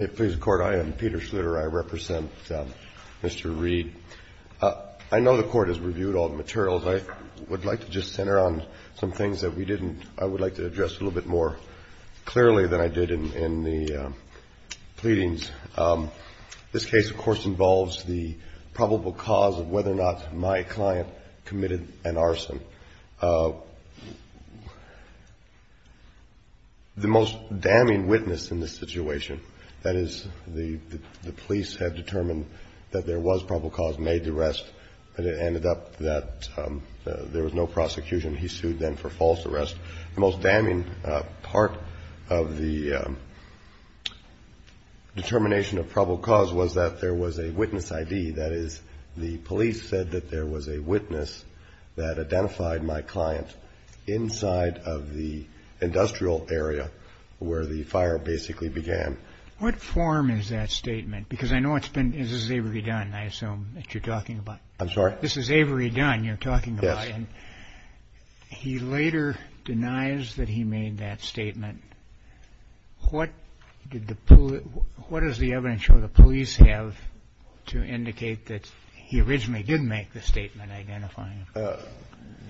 I know the Court has reviewed all the materials. I would like to just center on some things that we didn't. I would like to address a little bit more clearly than I did in the pleadings. This case, of course, involves the probable cause of whether or not my client committed an arson. The most damning witness in this situation, that is, the police had determined that there was probable cause, made the arrest, and it ended up that there was no prosecution. He sued then for false arrest. The most damning part of the determination of probable cause was that there was a witness ID, that is, the police said that there was a witness that identified my client inside of the industrial area where the fire basically began. What form is that statement? Because I know it's been, this is Avery Dunn, I assume, that you're talking about. I'm sorry? This is Avery Dunn you're talking about. Yes. He later denies that he made that statement. What did the police, what does the evidence show the police have to indicate that he originally did make the statement identifying him?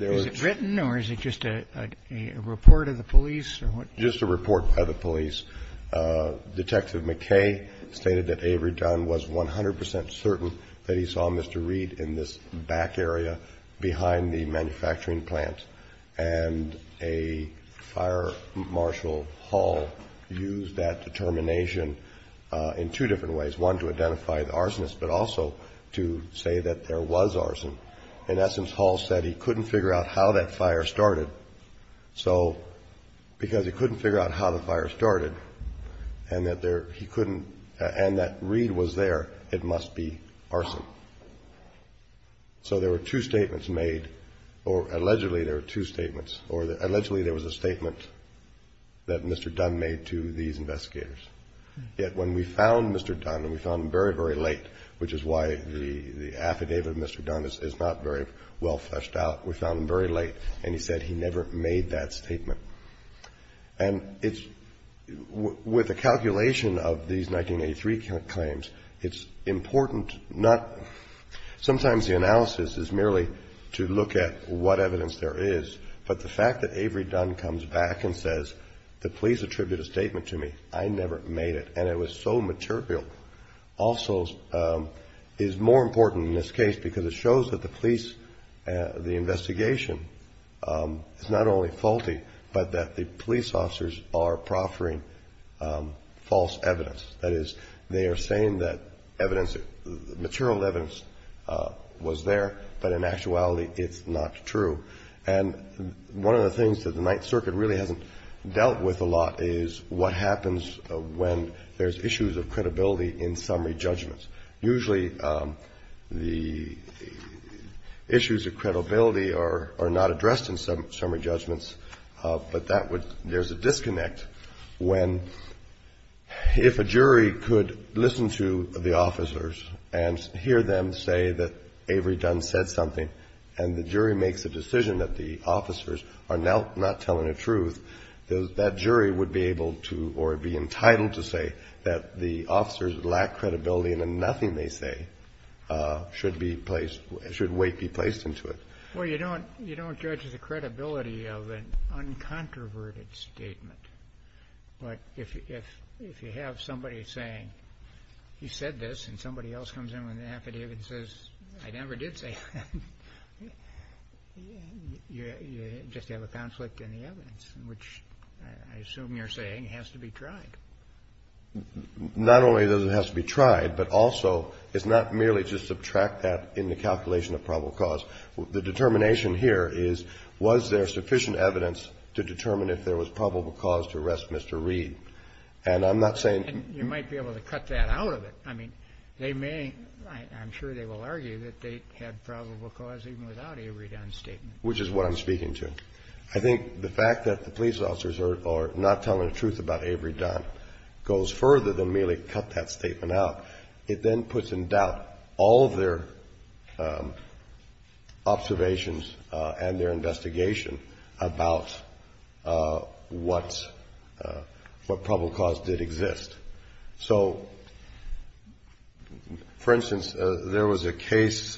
Is it written or is it just a report of the police? Just a report by the police. Detective McKay stated that Avery Dunn was 100% certain that he saw Mr. Reed in this back area behind the manufacturing plant. And a fire marshal, Hall, used that determination in two different ways. One, to identify the arsonist, but also to say that there was arson. In essence, Hall said he couldn't figure out how that fire started. So because he couldn't figure out how the fire started and that there, he couldn't, and that Reed was there, it must be arson. So there were two statements made, or allegedly there were two statements, or allegedly there was a statement that Mr. Dunn made to these investigators. Yet when we found Mr. Dunn, and we found him very, very late, which is why the affidavit of Mr. Dunn is not very well fleshed out, we found him very late, and he said he never made that statement. And it's, with the calculation of these 1983 claims, it's important not, sometimes the analysis is merely to look at what evidence there is, but the fact that Avery Dunn comes back and says the police attributed a statement to me, I never made it, and it was so material, also is more important in this case because it shows that the police, the investigation is not only faulty, but that the police officers are proffering false evidence. That is, they are saying that evidence, material evidence was there, but in actuality it's not true. And one of the things that the Ninth Circuit really hasn't dealt with a lot is what happens when there's issues of credibility in summary judgments. Usually the issues of credibility are not addressed in summary judgments, but that would, there's a disconnect when, if a jury could listen to the officers and hear them say that Avery Dunn said something and the jury makes a decision that the officers are not telling the truth, that jury would be able to or be entitled to say that the officers lack credibility and then nothing they say should be placed, should weight be placed into it. Well, you don't judge the credibility of an uncontroverted statement. But if you have somebody saying, you said this, and somebody else comes in with an affidavit and says, I never did say that, you just have a conflict in the evidence, which I assume you're saying has to be tried. Not only does it have to be tried, but also it's not merely to subtract that in the calculation of probable cause. The determination here is, was there sufficient evidence to determine if there was probable cause to arrest Mr. Reed? And I'm not saying you might be able to cut that out of it. I mean, they may, I'm sure they will argue that they had probable cause even without Avery Dunn's statement. Which is what I'm speaking to. I think the fact that the police officers are not telling the truth about Avery Dunn goes further than merely cut that statement out. It then puts in doubt all of their observations and their investigation about what probable cause did exist. So, for instance, there was a case.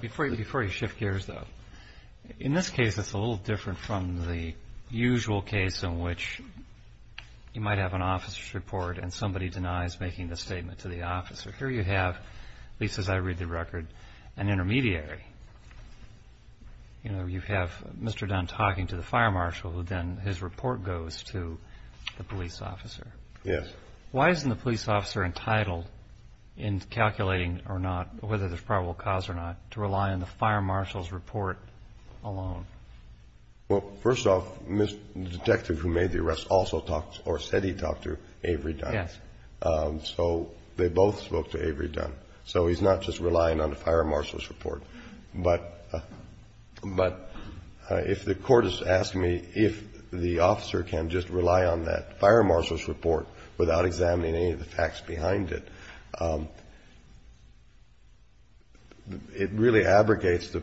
Before you shift gears, though, in this case it's a little different from the usual case in which you might have an officer's report and somebody denies making the statement to the officer. Here you have, at least as I read the record, an intermediary. You know, you have Mr. Dunn talking to the fire marshal, then his report goes to the police officer. Yes. Why isn't the police officer entitled in calculating or not, whether there's probable cause or not, to rely on the fire marshal's report alone? Well, first off, the detective who made the arrest also talked or said he talked to Avery Dunn. Yes. So they both spoke to Avery Dunn. So he's not just relying on the fire marshal's report. But if the Court has asked me if the officer can just rely on that fire marshal's report without examining any of the facts behind it, it really abrogates the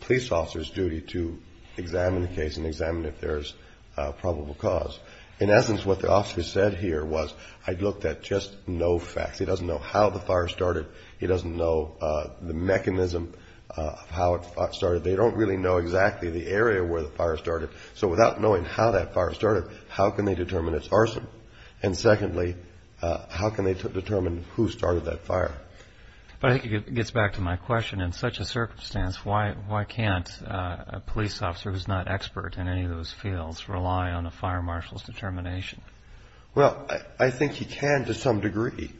police officer's duty to examine the case and examine if there's probable cause. In essence, what the officer said here was, I looked at just no facts. He doesn't know how the fire started. He doesn't know the mechanism of how it started. They don't really know exactly the area where the fire started. So without knowing how that fire started, how can they determine it's arson? And secondly, how can they determine who started that fire? But I think it gets back to my question. In such a circumstance, why can't a police officer who's not expert in any of those fields rely on a fire marshal's determination? Well, I think he can to some degree.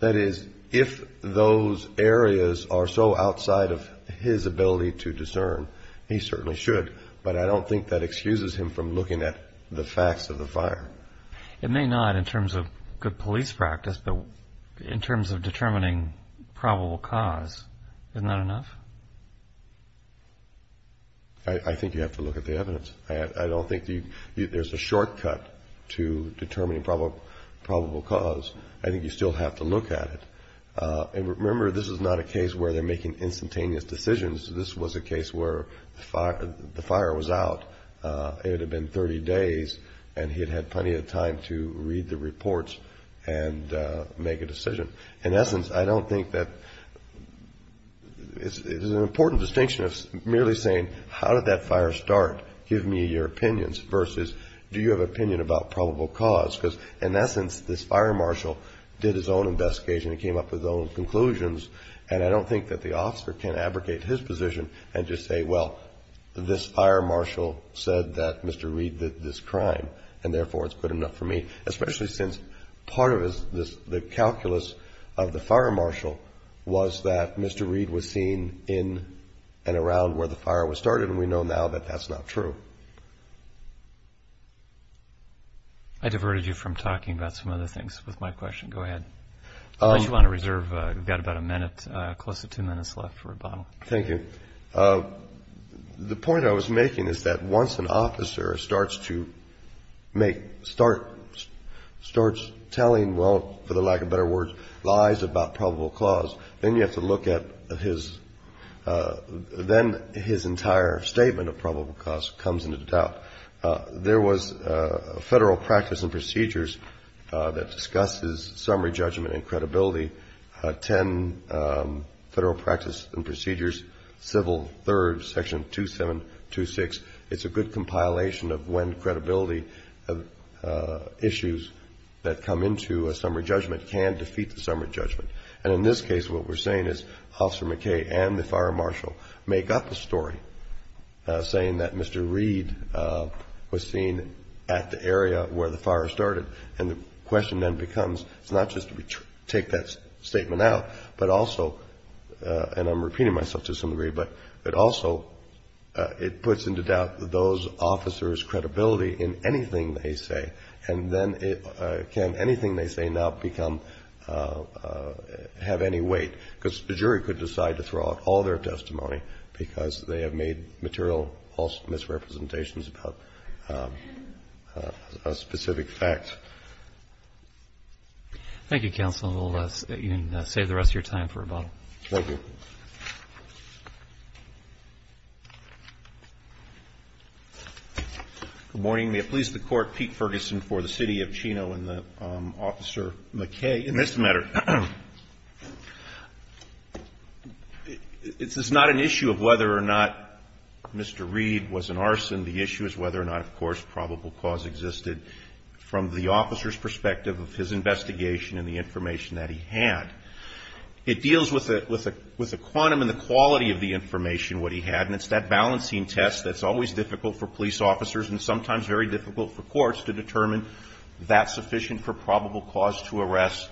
That is, if those areas are so outside of his ability to discern, he certainly should. But I don't think that excuses him from looking at the facts of the fire. It may not in terms of good police practice, but in terms of determining probable cause, isn't that enough? I think you have to look at the evidence. I don't think there's a shortcut to determining probable cause. I think you still have to look at it. And remember, this is not a case where they're making instantaneous decisions. This was a case where the fire was out. It had been 30 days, and he had had plenty of time to read the reports and make a decision. In essence, I don't think that it's an important distinction of merely saying, how did that fire start? Give me your opinions versus do you have an opinion about probable cause? Because in essence, this fire marshal did his own investigation. He came up with his own conclusions. And I don't think that the officer can abrogate his position and just say, well, this fire marshal said that Mr. Reed did this crime, and therefore it's good enough for me, especially since part of the calculus of the fire marshal was that Mr. Reed was seen in and around where the fire was started, and we know now that that's not true. I diverted you from talking about some other things with my question. Go ahead. Unless you want to reserve, you've got about a minute, close to two minutes left for rebuttal. Thank you. The point I was making is that once an officer starts to make, starts telling, well, for the lack of better words, lies about probable cause, then you have to look at his, then his entire statement of probable cause comes into doubt. There was a federal practice and procedures that discusses summary judgment and credibility, 10 federal practice and procedures, civil third, section 2726. It's a good compilation of when credibility issues that come into a summary judgment can defeat the summary judgment. And in this case, what we're saying is Officer McKay and the fire marshal make up the story, saying that Mr. Reed was seen at the area where the fire started. And the question then becomes, it's not just to take that statement out, but also, and I'm repeating myself to some degree, but also it puts into doubt those officers' credibility in anything they say. And then can anything they say now become, have any weight? Because the jury could decide to throw out all their testimony because they have made material misrepresentations about specific facts. Thank you, counsel. We'll save the rest of your time for rebuttal. Thank you. Good morning. May it please the Court, Pete Ferguson for the City of Chino and Officer McKay in this matter. It's not an issue of whether or not Mr. Reed was an arson. The issue is whether or not, of course, probable cause existed from the officer's perspective of his investigation and the information that he had. It deals with the quantum and the quality of the information, what he had, and it's that balancing test that's always difficult for police officers and sometimes very difficult for courts to determine that's sufficient for probable cause to arrest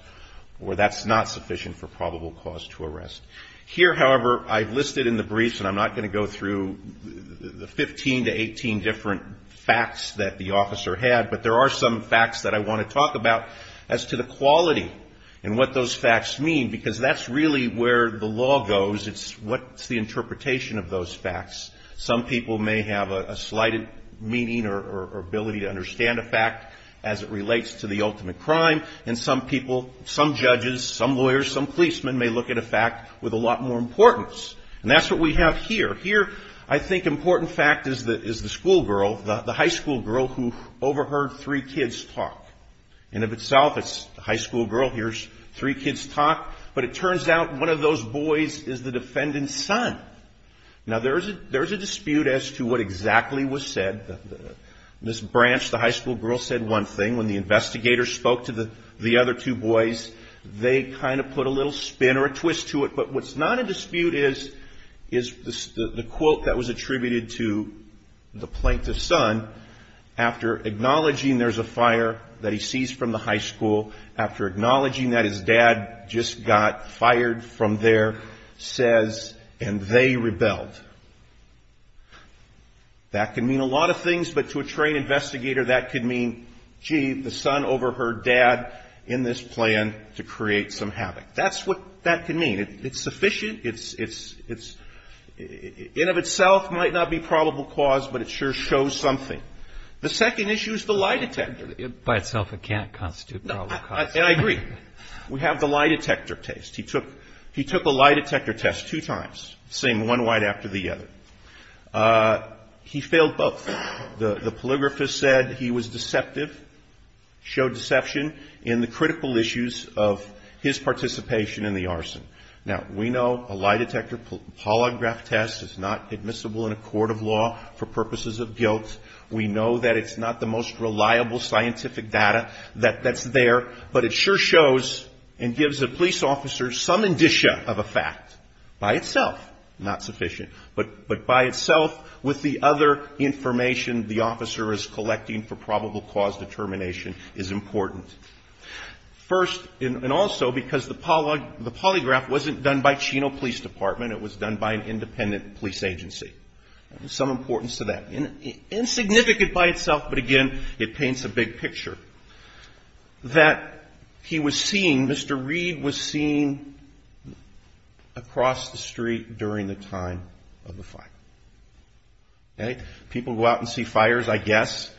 or that's not sufficient for probable cause to arrest. Here, however, I've listed in the briefs, and I'm not going to go through the 15 to 18 different facts that the officer had, but there are some facts that I want to talk about as to the quality and what those facts mean because that's really where the law goes. It's what's the interpretation of those facts. Some people may have a slighted meaning or ability to understand a fact as it relates to the ultimate crime, and some people, some judges, some lawyers, some policemen may look at a fact with a lot more importance. And that's what we have here. Here, I think, important fact is the schoolgirl, the high schoolgirl who overheard three kids talk. And of itself, it's the high schoolgirl hears three kids talk, but it turns out one of those boys is the defendant's son. Now, there's a dispute as to what exactly was said. Ms. Branch, the high schoolgirl, said one thing. When the investigator spoke to the other two boys, they kind of put a little spin or a twist to it. But what's not a dispute is the quote that was attributed to the plaintiff's son. After acknowledging there's a fire that he sees from the high school, after acknowledging that his dad just got fired from there, says, and they rebelled. That can mean a lot of things, but to a trained investigator, that could mean, gee, the son overheard dad in this plan to create some havoc. That's what that could mean. It's sufficient. It's in of itself might not be probable cause, but it sure shows something. The second issue is the lie detector. By itself, it can't constitute probable cause. And I agree. We have the lie detector test. He took a lie detector test two times, the same one right after the other. He failed both. The polygraphist said he was deceptive, showed deception in the critical issues of his participation in the arson. Now, we know a lie detector polygraph test is not admissible in a court of law for purposes of guilt. We know that it's not the most reliable scientific data that's there, but it sure shows and gives a police officer some indicia of a fact. By itself, not sufficient. But by itself, with the other information the officer is collecting for probable cause determination is important. First, and also because the polygraph wasn't done by Chino Police Department. It was done by an independent police agency. Some importance to that. Insignificant by itself, but again, it paints a big picture. That he was seen, Mr. Reed was seen across the street during the time of the fire. People go out and see fires, I guess.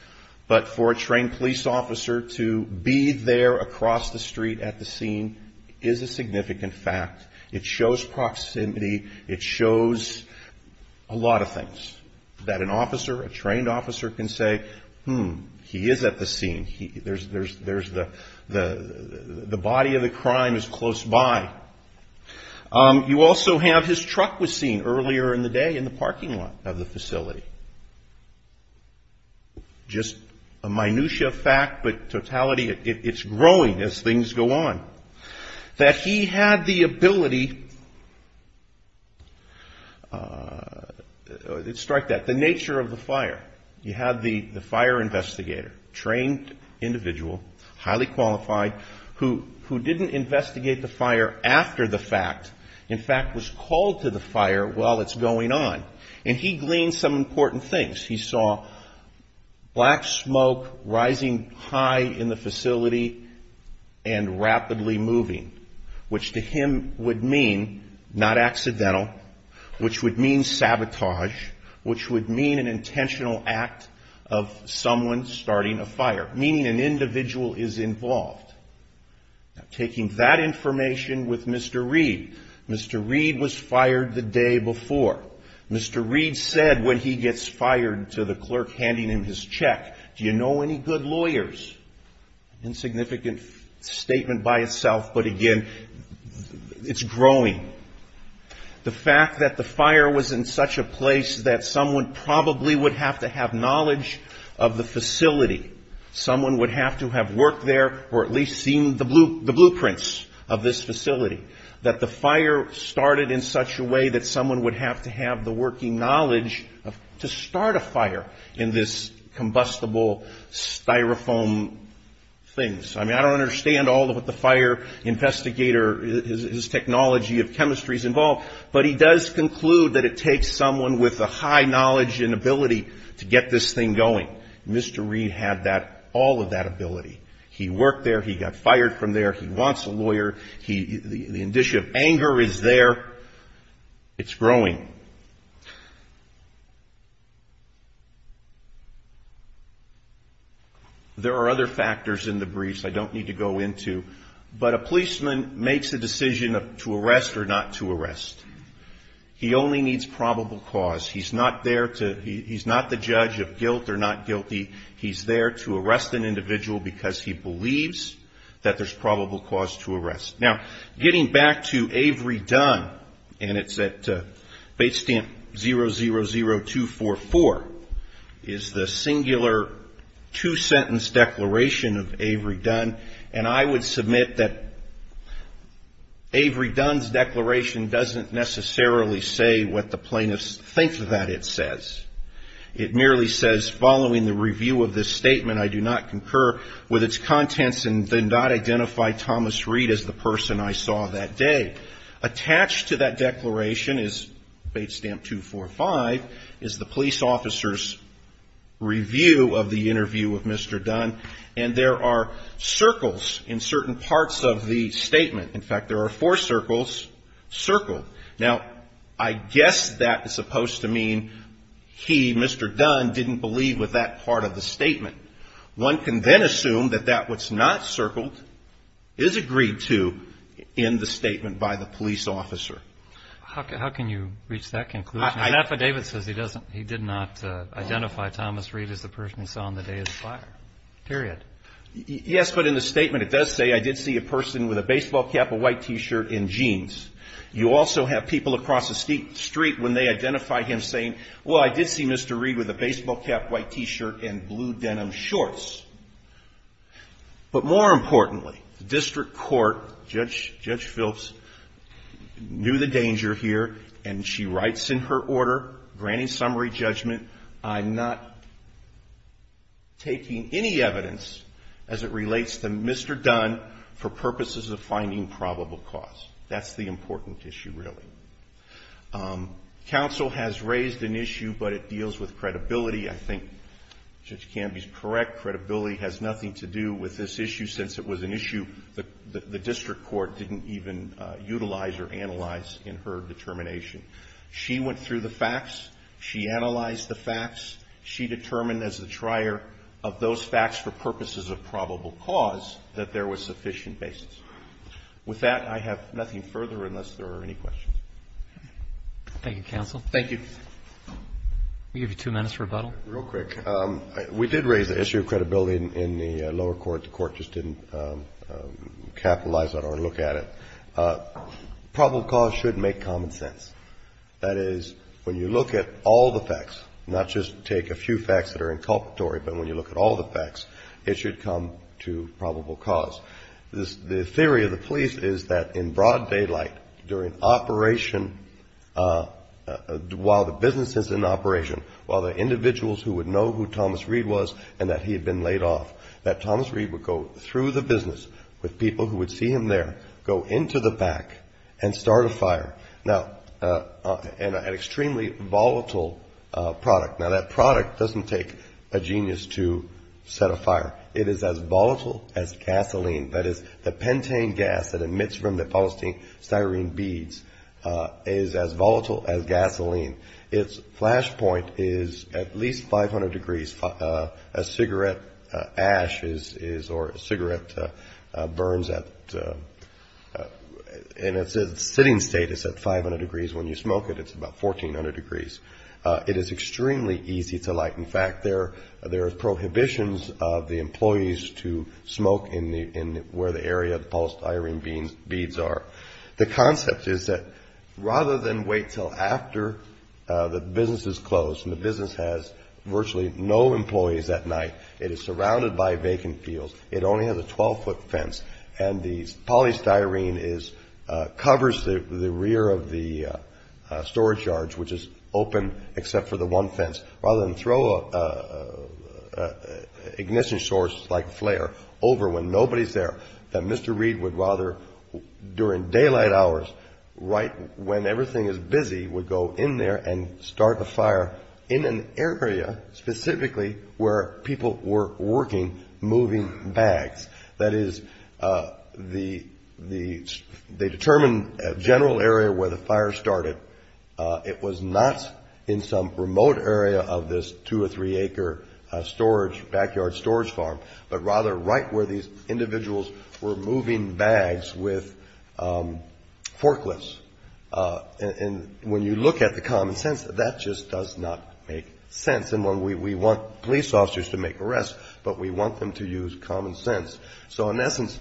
But for a trained police officer to be there across the street at the scene is a significant fact. It shows proximity. It shows a lot of things. That an officer, a trained officer can say, hmm, he is at the scene. There's the body of the crime is close by. You also have his truck was seen earlier in the day in the parking lot of the facility. Just a minutia fact, but totality, it's growing as things go on. That he had the ability, strike that, the nature of the fire. He had the fire investigator, trained individual, highly qualified, who didn't investigate the fire after the fact. In fact, was called to the fire while it's going on. And he gleaned some important things. He saw black smoke rising high in the facility and rapidly moving. Which to him would mean, not accidental, which would mean sabotage. Which would mean an intentional act of someone starting a fire. Meaning an individual is involved. Taking that information with Mr. Reed. Mr. Reed was fired the day before. Mr. Reed said when he gets fired to the clerk handing him his check, do you know any good lawyers? Insignificant statement by itself, but again, it's growing. The fact that the fire was in such a place that someone probably would have to have knowledge of the facility. Someone would have to have worked there or at least seen the blueprints of this facility. That the fire started in such a way that someone would have to have the working knowledge to start a fire in this combustible styrofoam things. I mean, I don't understand all of what the fire investigator, his technology of chemistry is involved. But he does conclude that it takes someone with a high knowledge and ability to get this thing going. Mr. Reed had that, all of that ability. He worked there. He got fired from there. He wants a lawyer. The indicia of anger is there. It's growing. There are other factors in the briefs I don't need to go into. But a policeman makes a decision to arrest or not to arrest. He only needs probable cause. He's not there to, he's not the judge of guilt or not guilty. He's there to arrest an individual because he believes that there's probable cause to arrest. Now, getting back to Avery Dunn, and it's at base stamp 000244, is the singular two-sentence declaration of Avery Dunn. And I would submit that Avery Dunn's declaration doesn't necessarily say what the plaintiffs think that it says. It merely says, following the review of this statement, I do not concur with its contents and did not identify Thomas Reed as the person I saw that day. Attached to that declaration is base stamp 245, is the police officer's review of the interview of Mr. Dunn. And there are circles in certain parts of the statement. In fact, there are four circles circled. Now, I guess that is supposed to mean he, Mr. Dunn, didn't believe with that part of the statement. One can then assume that that what's not circled is agreed to in the statement by the police officer. How can you reach that conclusion? An affidavit says he doesn't, he did not identify Thomas Reed as the person he saw on the day of the fire, period. Yes, but in the statement it does say I did see a person with a baseball cap, a white T-shirt and jeans. You also have people across the street when they identify him saying, well, I did see Mr. Reed with a baseball cap, white T-shirt and blue denim shorts. But more importantly, the district court, Judge Phelps, knew the danger here and she writes in her order granting summary judgment, I'm not taking any evidence as it relates to Mr. Dunn for purposes of finding probable cause. That's the important issue, really. Counsel has raised an issue, but it deals with credibility. I think Judge Canby is correct. Credibility has nothing to do with this issue since it was an issue that the district court didn't even utilize or analyze in her determination. She went through the facts. She analyzed the facts. She determined as the trier of those facts for purposes of probable cause that there was sufficient basis. With that, I have nothing further unless there are any questions. Thank you, counsel. Thank you. We'll give you two minutes for rebuttal. Real quick. We did raise the issue of credibility in the lower court. The court just didn't capitalize on it or look at it. Probable cause should make common sense. That is, when you look at all the facts, not just take a few facts that are inculpatory, but when you look at all the facts, it should come to probable cause. The theory of the police is that in broad daylight, during operation, while the business is in operation, while the individuals who would know who Thomas Reed was and that he had been laid off, that Thomas Reed would go through the business with people who would see him there, go into the back, and start a fire. Now, an extremely volatile product. Now, that product doesn't take a genius to set a fire. It is as volatile as gasoline. That is, the pentane gas that emits from the polystyrene beads is as volatile as gasoline. Its flash point is at least 500 degrees. A cigarette ash is or a cigarette burns at and its sitting state is at 500 degrees. When you smoke it, it's about 1,400 degrees. It is extremely easy to light. In fact, there are prohibitions of the employees to smoke in where the area of the polystyrene beads are. The concept is that rather than wait until after the business is closed and the business has virtually no employees at night, it is surrounded by vacant fields, it only has a 12-foot fence, and the polystyrene covers the rear of the storage yards, which is open except for the one fence. Rather than throw an ignition source like a flare over when nobody's there, Mr. Reed would rather, during daylight hours, right when everything is busy, would go in there and start the fire in an area specifically where people were working, moving bags. That is, they determined a general area where the fire started. It was not in some remote area of this two- or three-acre storage, backyard storage farm, but rather right where these individuals were moving bags with forklifts. And when you look at the common sense, that just does not make sense. And we want police officers to make arrests, but we want them to use common sense. So, in essence,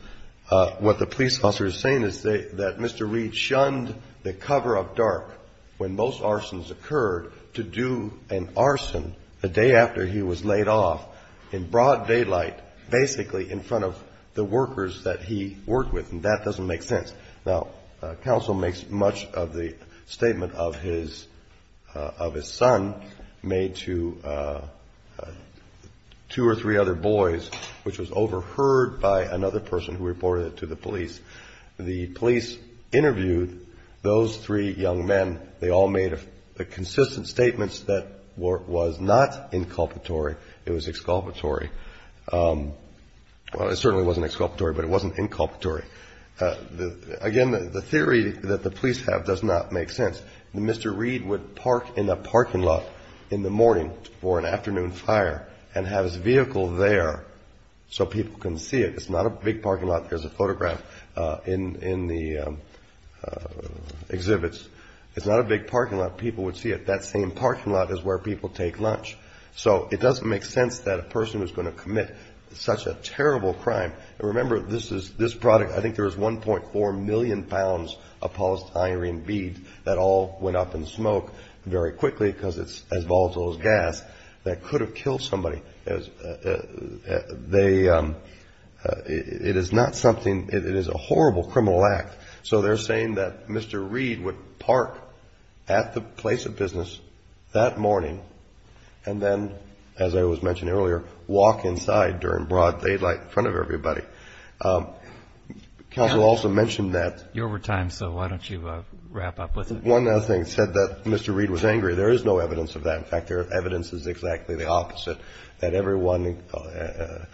what the police officer is saying is that Mr. Reed shunned the cover of dark when most arsons occurred to do an arson the day after he was laid off in broad daylight, basically in front of the workers that he worked with, and that doesn't make sense. Now, counsel makes much of the statement of his son made to two or three other boys, which was overheard by another person who reported it to the police. The police interviewed those three young men. They all made consistent statements that it was not inculpatory, it was exculpatory. Well, it certainly wasn't exculpatory, but it wasn't inculpatory. Again, the theory that the police have does not make sense. Mr. Reed would park in a parking lot in the morning for an afternoon fire and have his vehicle there so people can see it. It's not a big parking lot. There's a photograph in the exhibits. It's not a big parking lot. People would see it. That same parking lot is where people take lunch. So it doesn't make sense that a person was going to commit such a terrible crime. And remember, this product, I think there was 1.4 million pounds of polystyrene beads that all went up in smoke very quickly because it's as volatile as gas that could have killed somebody. It is not something, it is a horrible criminal act. So they're saying that Mr. Reed would park at the place of business that morning and then, as I was mentioning earlier, walk inside during broad daylight in front of everybody. Counsel also mentioned that. You're over time, so why don't you wrap up with it. One other thing. It said that Mr. Reed was angry. There is no evidence of that. In fact, the evidence is exactly the opposite, that everyone that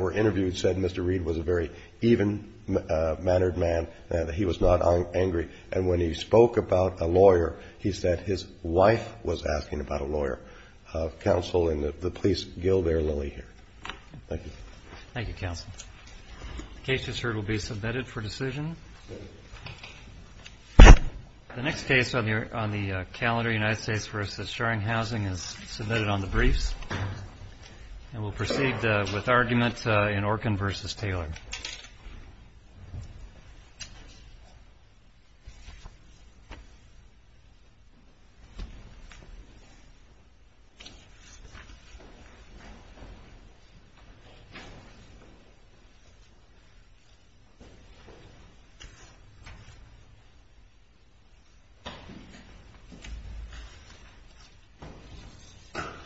were interviewed said Mr. Reed was a very even-mannered man, that he was not angry. And when he spoke about a lawyer, he said his wife was asking about a lawyer. Counsel and the police gill their lily here. Thank you. Thank you, counsel. The case, as heard, will be submitted for decision. The next case on the calendar, United States v. Sharing Housing, is submitted on the briefs. And we'll proceed with argument in Orkin v. Taylor. Thank you.